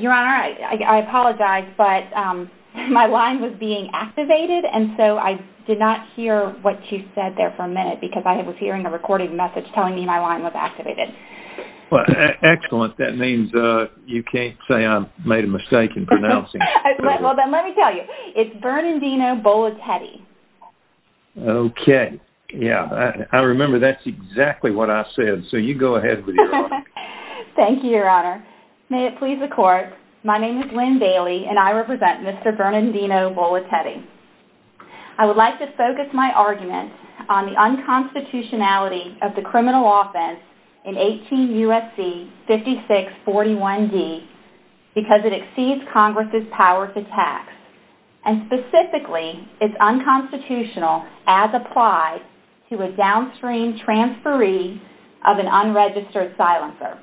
Your Honor, I apologize, but my line was being activated and so I did not hear what you said there for a minute because I was hearing a recording message telling me my line was activated. Excellent. That means you can't say I made a mistake in pronouncing it. Well, then let me tell you. It's Bernandino Bolatete. Okay. Yeah. I remember that's exactly what I said, so you go ahead with your argument. Thank you, Your Honor. May it please the Court, my name is Lynn Bailey and I represent Mr. Bernandino Bolatete. I would like to focus my argument on the unconstitutionality of the criminal offense in 18 U.S.C. 5641D because it exceeds Congress' power to tax. And specifically, it's unconstitutional as applied to a downstream transferee of an unregistered silencer.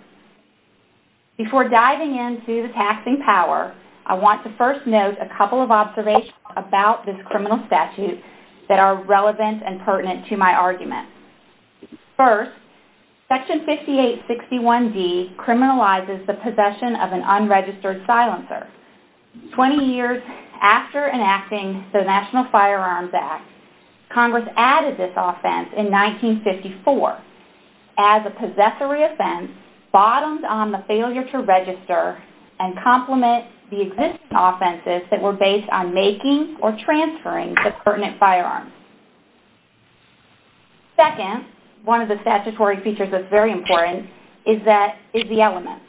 Before diving into the taxing power, I want to first note a couple of observations about this criminal statute that are relevant and pertinent to my argument. First, Section 5861D criminalizes the possession of an unregistered silencer. Twenty years after enacting the National Firearms Act, Congress added this offense in 1954 as a possessory offense bottomed on the failure to register and complement the existing offenses that were based on making or transferring the pertinent firearms. Second, one of the statutory features that's very important is the elements.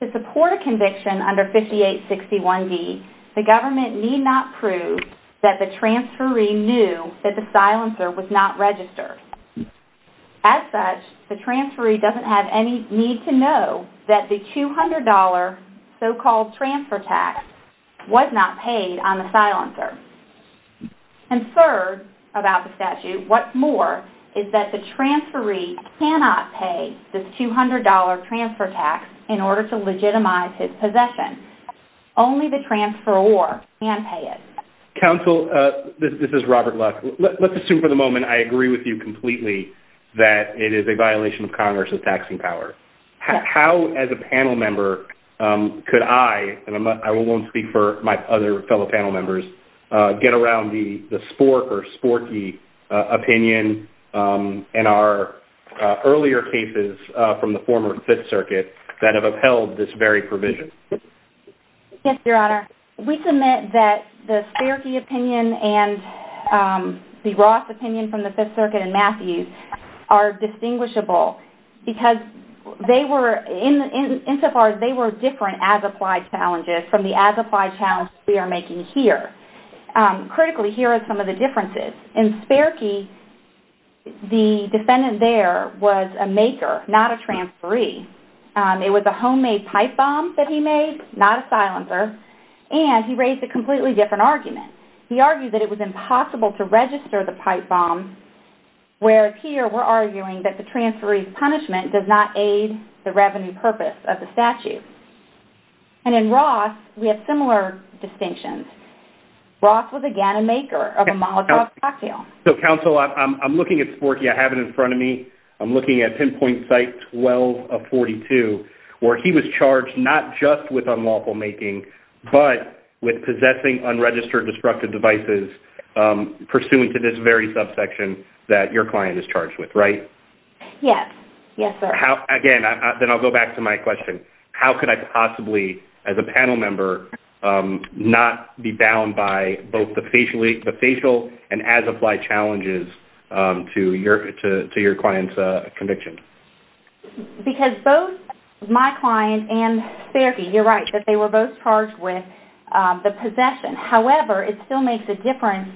To support a conviction under 5861D, the government need not prove that the transferee knew that the silencer was not registered. As such, the transferee doesn't have any need to know that the $200 so-called transfer tax was not paid on the silencer. And third about the statute, what's more, is that the transferee cannot pay this $200 transfer tax in order to legitimize his possession. Only the transferor can pay it. Counsel, this is Robert Lusk. Let's assume for the moment I agree with you completely that it is a violation of Congress' taxing power. How as a panel member could I, and I won't speak for my other fellow panel members, get around the Spork or Sporky opinion and our earlier cases from the former Fifth Circuit that have upheld this very provision? Yes, Your Honor. We submit that the Sporky opinion and the Ross opinion from the Fifth Circuit and Matthews are distinguishable because they were, insofar as they were different as-applied challenges from the as-applied challenge we are making here. Critically, here are some of the differences. In Sporky, the defendant there was a maker, not a transferee. It was a homemade pipe bomb that he made, not a silencer. And he raised a completely different argument. He argued that it was impossible to register the pipe bomb, whereas here we're arguing that the transferee's punishment does not aid the revenue purpose of the statute. And in Ross, we have similar distinctions. Ross was again a maker of a Molotov cocktail. Counsel, I'm looking at Sporky. I have it in front of me. I'm looking at pinpoint site 12 of 42, where he was charged not just with unlawful making, but with possessing unregistered destructive devices pursuant to this very subsection that your client is charged with, right? Yes. Yes, sir. Again, then I'll go back to my question. How could I possibly, as a panel member, not be bound by both the facial and as-applied challenges to your client's conviction? Because both my client and Sporky, you're right, that they were both charged with the possession. However, it still makes a difference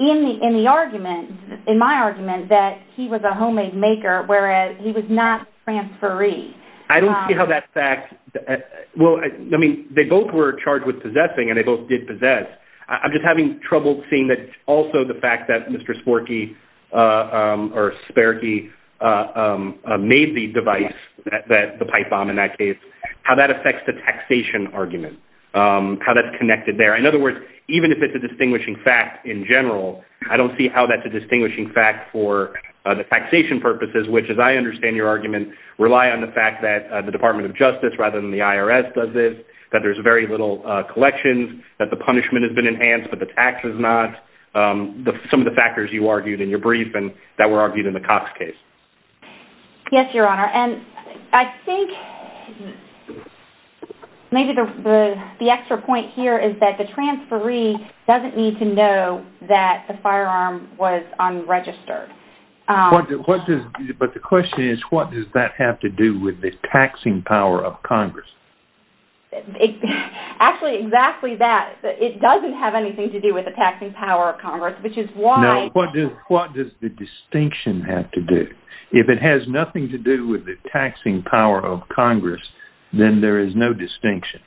in the argument, in my argument, that he was a homemade maker, whereas he was not transferee. I don't see how that fact – well, I mean, they both were charged with possessing, and they both did possess. I'm just having trouble seeing that also the fact that Mr. Sporky, or Sperky, made the device, the pipe bomb in that case, how that affects the taxation argument, how that's connected there. In other words, even if it's a distinguishing fact in general, I don't see how that's a distinguishing fact for the taxation purposes, which, as I understand your argument, rely on the fact that the Department of Justice rather than the IRS does this, that there's very little collections, that the punishment has been enhanced but the tax has not, some of the factors you argued in your brief and that were argued in the Cox case. Yes, Your Honor, and I think maybe the extra point here is that the transferee doesn't need to know that the firearm was unregistered. But the question is, what does that have to do with the taxing power of Congress? Actually, exactly that. It doesn't have anything to do with the taxing power of Congress, which is why – No, what does the distinction have to do? If it has nothing to do with the taxing power of Congress, then there is no distinction.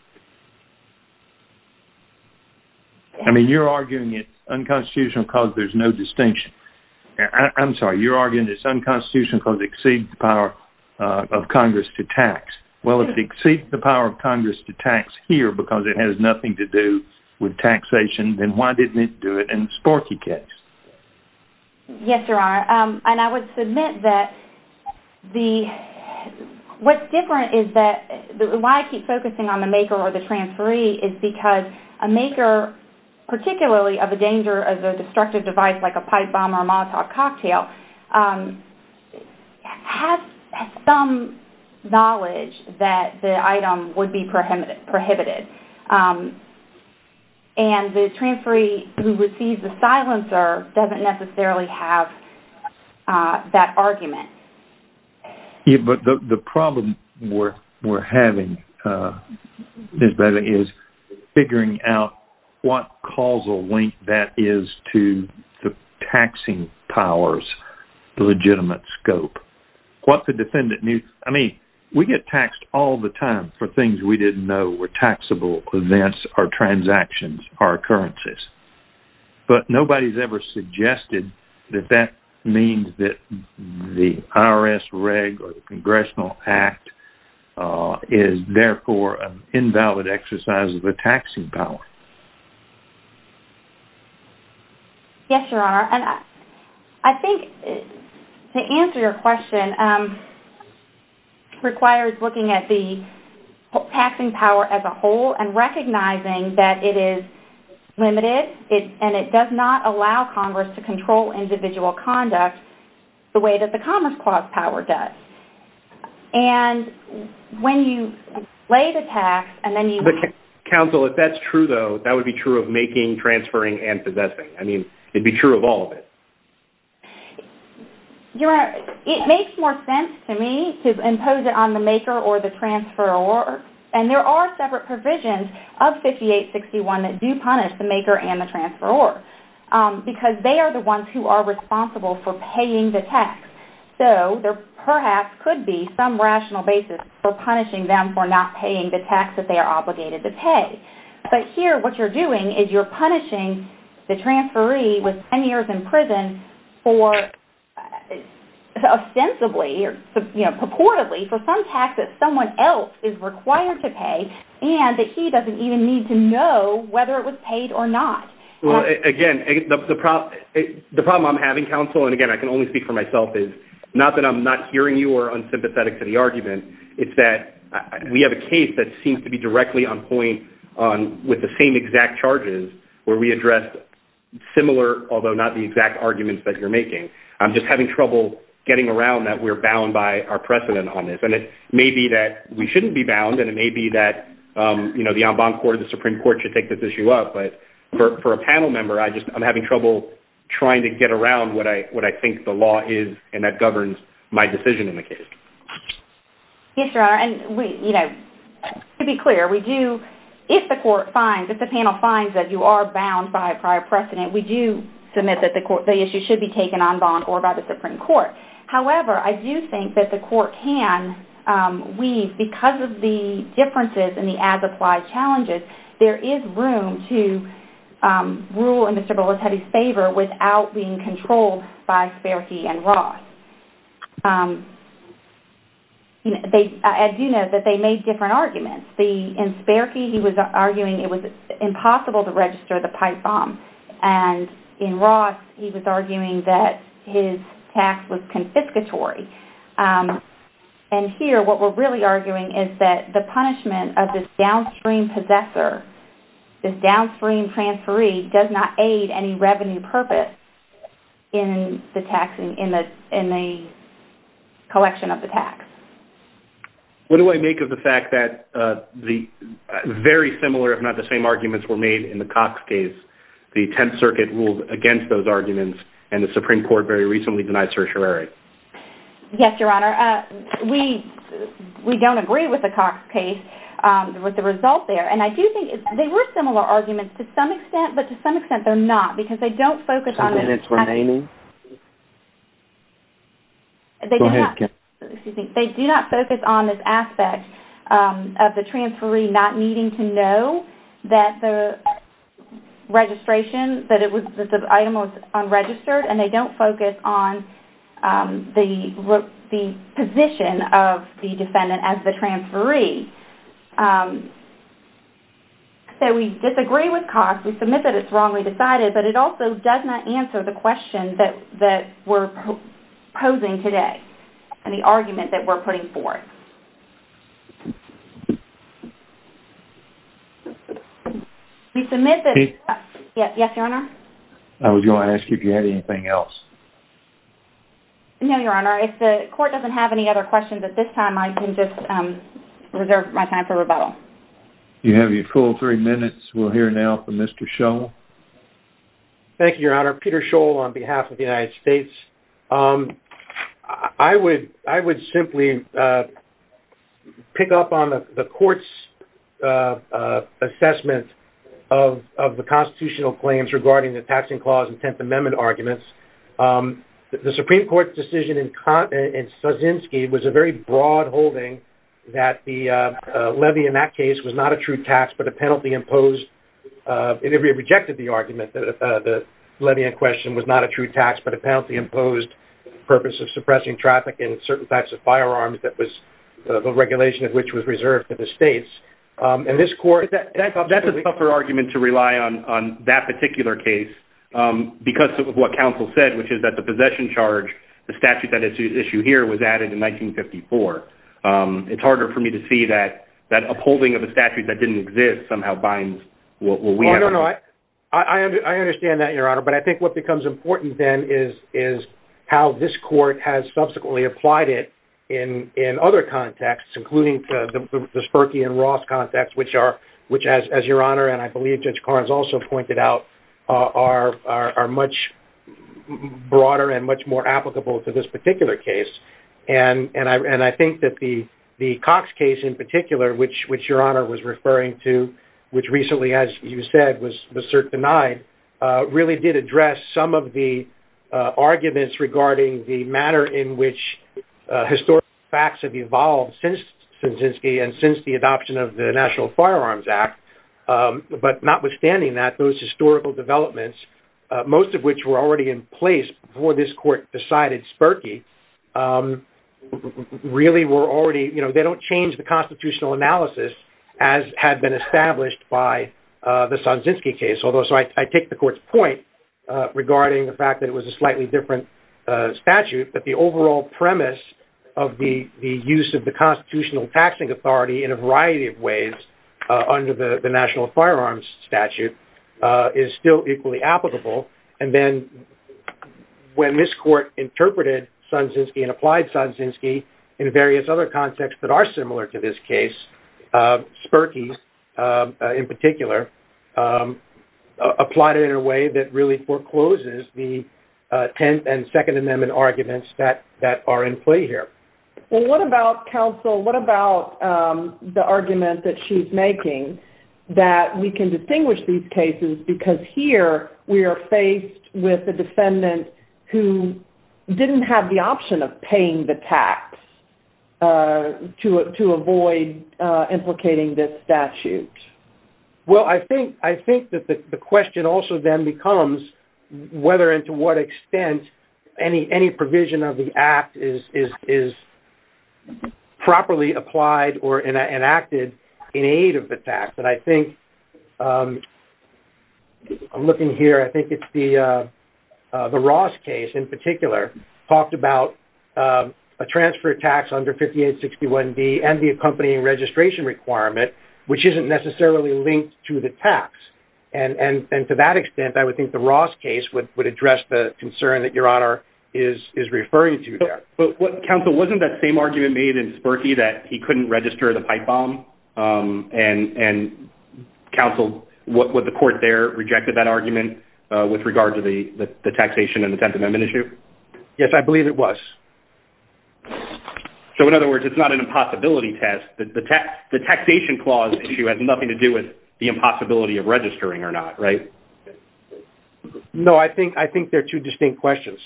I mean, you're arguing it's unconstitutional because there's no distinction. I'm sorry, you're arguing it's unconstitutional because it exceeds the power of Congress to tax. Well, if it exceeds the power of Congress to tax here because it has nothing to do with taxation, then why didn't it do it in the Sporky case? Yes, Your Honor, and I would submit that the – what's different is that – why I keep focusing on the maker or the transferee is because a maker, particularly of a danger of a destructive device like a pipe bomb or a Molotov cocktail, has some knowledge that the item would be prohibited. And the transferee who receives the silencer doesn't necessarily have that argument. Yes, but the problem we're having is figuring out what causal link that is to the taxing power's legitimate scope. What the defendant – I mean, we get taxed all the time for things we didn't know were taxable events or transactions or occurrences. But nobody's ever suggested that that means that the IRS reg or the Congressional Act is therefore an invalid exercise of the taxing power. Yes, Your Honor, and I think to answer your question requires looking at the taxing power as a whole and recognizing that it is limited and it does not allow Congress to control individual conduct the way that the Commerce Clause power does. And when you lay the tax and then you – Counsel, if that's true, though, that would be true of making, transferring, and possessing. I mean, it'd be true of all of it. Your Honor, it makes more sense to me to impose it on the maker or the transferor. And there are separate provisions of 5861 that do punish the maker and the transferor because they are the ones who are responsible for paying the tax. So there perhaps could be some rational basis for punishing them for not paying the tax that they are obligated to pay. But here what you're doing is you're punishing the transferee with 10 years in prison for – ostensibly or purportedly for some tax that someone else is required to pay and that he doesn't even need to know whether it was paid or not. Well, again, the problem I'm having, Counsel, and again, I can only speak for myself, is not that I'm not hearing you or unsympathetic to the argument. It's that we have a case that seems to be directly on point with the same exact charges where we addressed similar, although not the exact arguments that you're making. I'm just having trouble getting around that we're bound by our precedent on this. And it may be that we shouldn't be bound and it may be that the en banc court or the Supreme Court should take this issue up. But for a panel member, I'm having trouble trying to get around what I think the law is and that governs my decision in the case. Yes, Your Honor, and to be clear, if the panel finds that you are bound by a prior precedent, we do submit that the issue should be taken en banc or by the Supreme Court. However, I do think that the court can weave, because of the differences and the as-applied challenges, there is room to rule in Mr. Bolletetti's favor without being controlled by Spierke and Ross. I do know that they made different arguments. In Spierke, he was arguing it was impossible to register the pipe bomb. And in Ross, he was arguing that his tax was confiscatory. And here, what we're really arguing is that the punishment of this downstream possessor, this downstream transferee, does not aid any revenue purpose in the collection of the tax. What do I make of the fact that the very similar, if not the same, arguments were made in the Cox case? The Tenth Circuit ruled against those arguments, and the Supreme Court very recently denied certiorari. Yes, Your Honor. We don't agree with the Cox case, with the result there. And I do think they were similar arguments to some extent, but to some extent they're not. Because they don't focus on this aspect of the transferee not needing to know that the registration, that the item was unregistered, and they don't focus on the position of the defendant as the transferee. So we disagree with Cox. We submit that it's wrongly decided, but it also does not answer the question that we're posing today, and the argument that we're putting forth. We submit that... Yes, Your Honor? I was going to ask you if you had anything else. No, Your Honor. If the court doesn't have any other questions at this time, I can just reserve my time for rebuttal. You have your full three minutes. We'll hear now from Mr. Scholl. Thank you, Your Honor. Peter Scholl on behalf of the United States. I would simply pick up on the court's assessment of the constitutional claims regarding the Taxing Clause and Tenth Amendment arguments. The Supreme Court's decision in Kaczynski was a very broad holding that the levy in that case was not a true tax, but a penalty imposed. It rejected the argument that the levy in question was not a true tax, but a penalty imposed for the purpose of suppressing traffic and certain types of firearms that was the regulation of which was reserved to the states. That's a tougher argument to rely on that particular case because of what counsel said, which is that the possession charge, the statute that is issued here, was added in 1954. It's harder for me to see that upholding of a statute that didn't exist somehow binds what we have. I understand that, Your Honor, but I think what becomes important then is how this court has subsequently applied it in other contexts, including the Sperky and Ross context, which as Your Honor, and I believe Judge Carnes also pointed out, are much broader and much more applicable to this particular case. I think that the Cox case in particular, which Your Honor was referring to, which recently, as you said, was cert denied, really did address some of the arguments regarding the manner in which historical facts have evolved since Kaczynski and since the adoption of the National Firearms Act. But notwithstanding that, those historical developments, most of which were already in place before this court decided Sperky, really were already, you know, they don't change the constitutional analysis as had been established by the Kaczynski case. Although, so I take the court's point regarding the fact that it was a slightly different statute, but the overall premise of the use of the constitutional taxing authority in a variety of ways under the National Firearms statute is still equally applicable. And then when this court interpreted Kaczynski and applied Kaczynski in various other contexts that are similar to this case, Sperky in particular, applied it in a way that really forecloses the 10th and Second Amendment arguments that are in play here. Well, what about counsel, what about the argument that she's making that we can distinguish these cases because here we are faced with a defendant who didn't have the option of paying the tax to avoid implicating this statute? Well, I think that the question also then becomes whether and to what extent any provision of the act is properly applied or enacted in aid of the tax. And I think, I'm looking here, I think it's the Ross case in particular talked about a transfer tax under 5861D and the accompanying registration requirement, which isn't necessarily linked to the tax. And to that extent, I would think the Ross case would address the concern that your honor is referring to there. But counsel, wasn't that same argument made in Sperky that he couldn't register the pipe bomb? And counsel, would the court there rejected that argument with regard to the taxation and the 10th Amendment issue? Yes, I believe it was. So in other words, it's not an impossibility test. The taxation clause issue has nothing to do with the impossibility of registering or not, right? No, I think they're two distinct questions.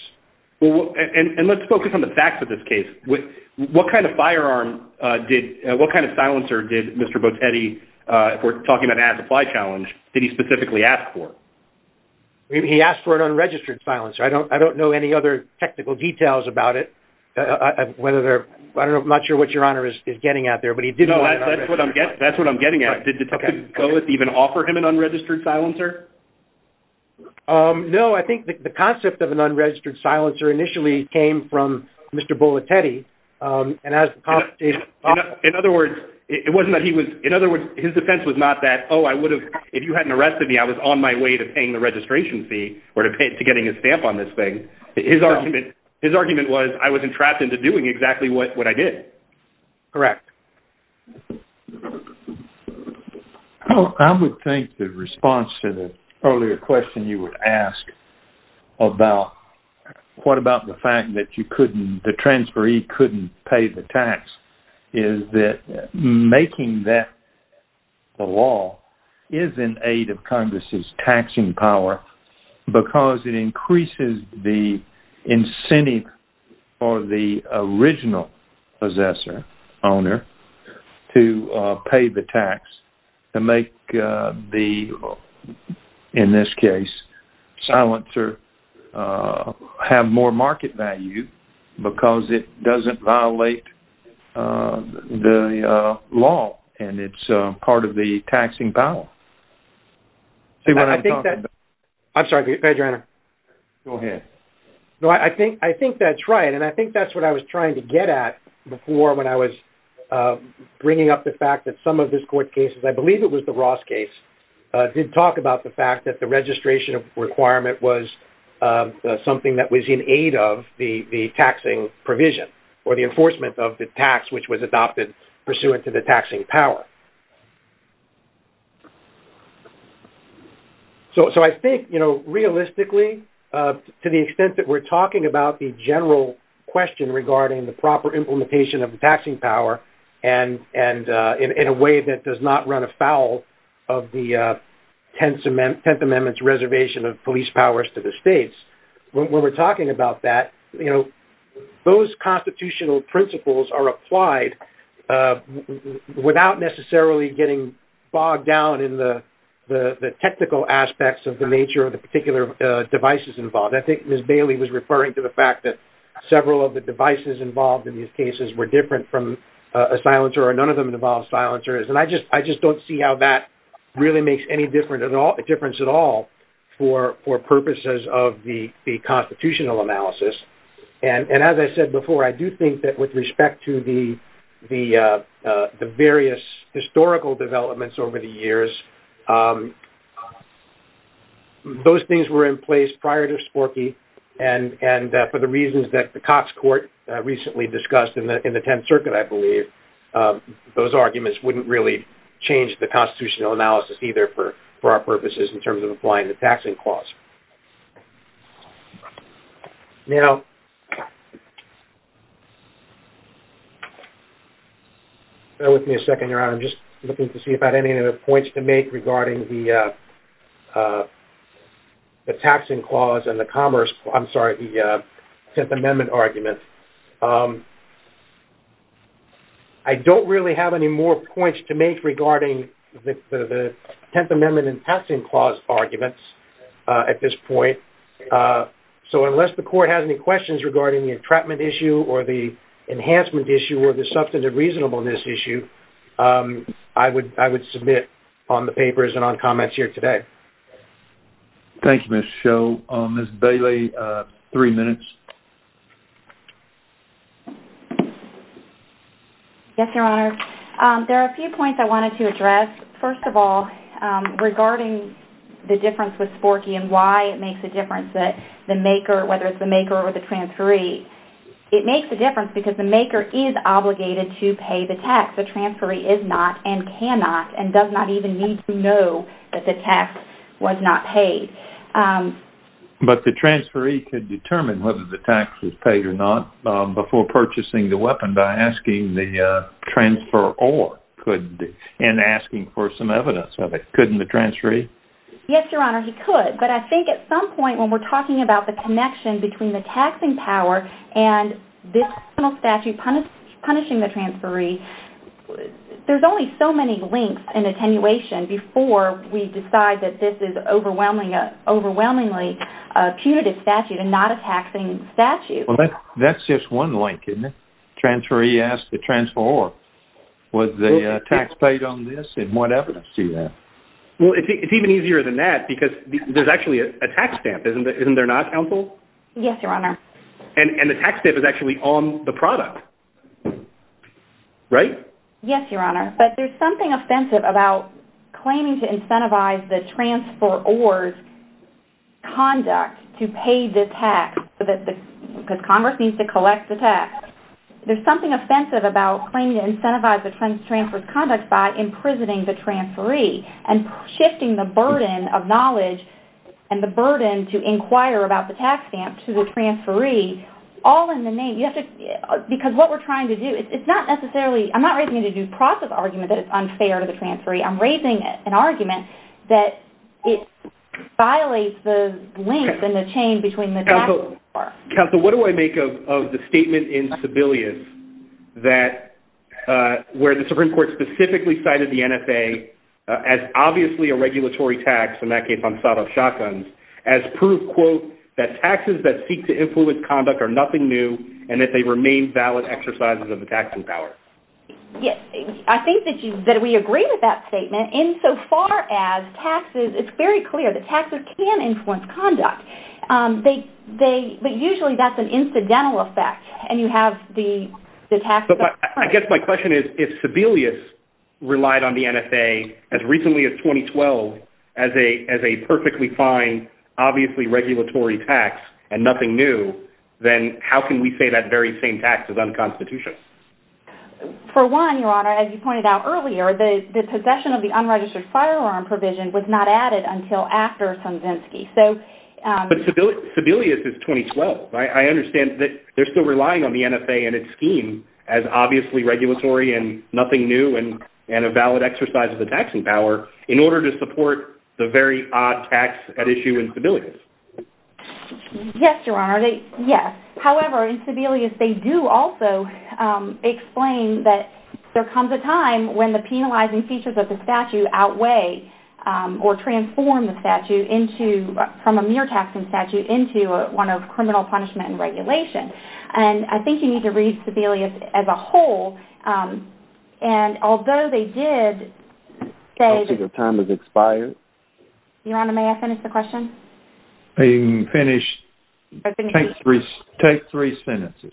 And let's focus on the facts of this case. What kind of firearm did, what kind of silencer did Mr. Botetti, if we're talking about an ad supply challenge, did he specifically ask for? He asked for an unregistered silencer. I don't know any other technical details about it. I'm not sure what your honor is getting at there. No, that's what I'm getting at. Did Detective Cohen even offer him an unregistered silencer? No, I think the concept of an unregistered silencer initially came from Mr. Botetti. In other words, it wasn't that he was, in other words, his defense was not that, oh, I would have, if you hadn't arrested me, I was on my way to paying the registration fee or to getting a stamp on this thing. His argument was, I was entrapped into doing exactly what I did. Correct. I would think the response to the earlier question you would ask about what about the fact that you couldn't, the transferee couldn't pay the tax, is that making that the law is in aid of Congress's taxing power because it increases the incentive for the original possessor, owner, to pay the tax to make the, in this case, silencer have more market value because it doesn't violate the law and it's part of the taxing power. I think that, I'm sorry, Judge Reiner. Go ahead. No, I think that's right, and I think that's what I was trying to get at before when I was bringing up the fact that some of this court case, I believe it was the Ross case, did talk about the fact that the registration requirement was something that was in aid of the taxing provision or the enforcement of the tax which was adopted pursuant to the taxing power. So, I think, you know, realistically, to the extent that we're talking about the general question regarding the proper implementation of the taxing power and in a way that does not run afoul of the Tenth Amendment's reservation of police powers to the states, when we're talking about that, you know, those constitutional principles are applied without necessarily, you know, getting bogged down in the technical aspects of the nature of the particular devices involved. I think Ms. Bailey was referring to the fact that several of the devices involved in these cases were different from a silencer or none of them involved silencers, and I just don't see how that really makes any difference at all for purposes of the constitutional analysis. And as I said before, I do think that with respect to the various historical developments over the years, those things were in place prior to Sporky, and for the reasons that the Cox Court recently discussed in the Tenth Circuit, I believe, those arguments wouldn't really change the constitutional analysis either for our purposes in terms of applying the taxing clause. So, bear with me a second, Your Honor. I'm just looking to see if I have any other points to make regarding the taxing clause and the commerce, I'm sorry, the Tenth Amendment argument. I don't really have any more points to make regarding the Tenth Amendment and taxing clause arguments at this point. So, unless the Court has any questions regarding the entrapment issue or the enhancement issue or the substantive reasonableness issue, I would submit on the papers and on comments here today. Thank you, Ms. Sho. Ms. Bailey, three minutes. Yes, Your Honor. There are a few points I wanted to address. But the transferee could determine whether the tax was paid or not before purchasing the weapon by asking the transferor and asking for some evidence of it. Couldn't the transferee? Yes, Your Honor, he could. But I think at some point when we're talking about the connection between the taxing power and this criminal statute punishing the transferee, there's only so many links and attenuation before we decide that this is overwhelmingly a punitive statute and not a taxing statute. Well, that's just one link, isn't it? The transferee asked the transferor, was the tax paid on this and what evidence do you have? Well, it's even easier than that because there's actually a tax stamp, isn't there not, counsel? Yes, Your Honor. And the tax stamp is actually on the product, right? Yes, Your Honor. But there's something offensive about claiming to incentivize the transferor's conduct to pay the tax because Congress needs to collect the tax. There's something offensive about claiming to incentivize the transferor's conduct by imprisoning the transferee and shifting the burden of knowledge and the burden to inquire about the tax stamp to the transferee all in the name. Because what we're trying to do, it's not necessarily, I'm not raising a due process argument that it's unfair to the transferee. I'm raising an argument that it violates the link and the chain between the tax and the war. Counsel, what do I make of the statement in Sebelius that where the Supreme Court specifically cited the NFA as obviously a regulatory tax, in that case on Sadov shotguns, as proof, quote, that taxes that seek to influence conduct are nothing new and that they remain valid exercises of the taxing power? Yes, I think that we agree with that statement insofar as taxes, it's very clear that taxes can influence conduct. But usually that's an incidental effect and you have the tax. I guess my question is if Sebelius relied on the NFA as recently as 2012 as a perfectly fine, obviously regulatory tax and nothing new, then how can we say that very same tax is unconstitutional? For one, Your Honor, as you pointed out earlier, the possession of the unregistered firearm provision was not added until after Sandzinski. But Sebelius is 2012. I understand that they're still relying on the NFA and its scheme as obviously regulatory and nothing new and a valid exercise of the taxing power in order to support the very odd tax at issue in Sebelius. Yes, Your Honor, yes. However, in Sebelius they do also explain that there comes a time when the penalizing features of the statute outweigh or transform the statute from a mere taxing statute into one of criminal punishment and regulation. And I think you need to read Sebelius as a whole and although they did say… I think your time has expired. Your Honor, may I finish the question? You can finish. Take three sentences.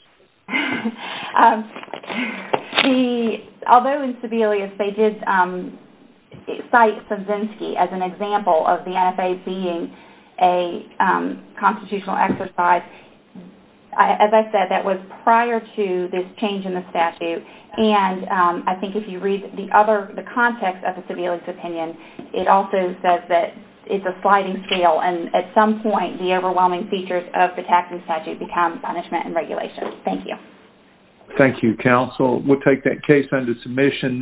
Although in Sebelius they did cite Sandzinski as an example of the NFA being a constitutional exercise, as I said, that was prior to this change in the statute and I think if you read the context of the Sebelius opinion, it also says that it's a sliding scale and at some point the overwhelming features of the taxing statute become punishment and regulation. Thank you. Thank you, counsel. We'll take that case under submission.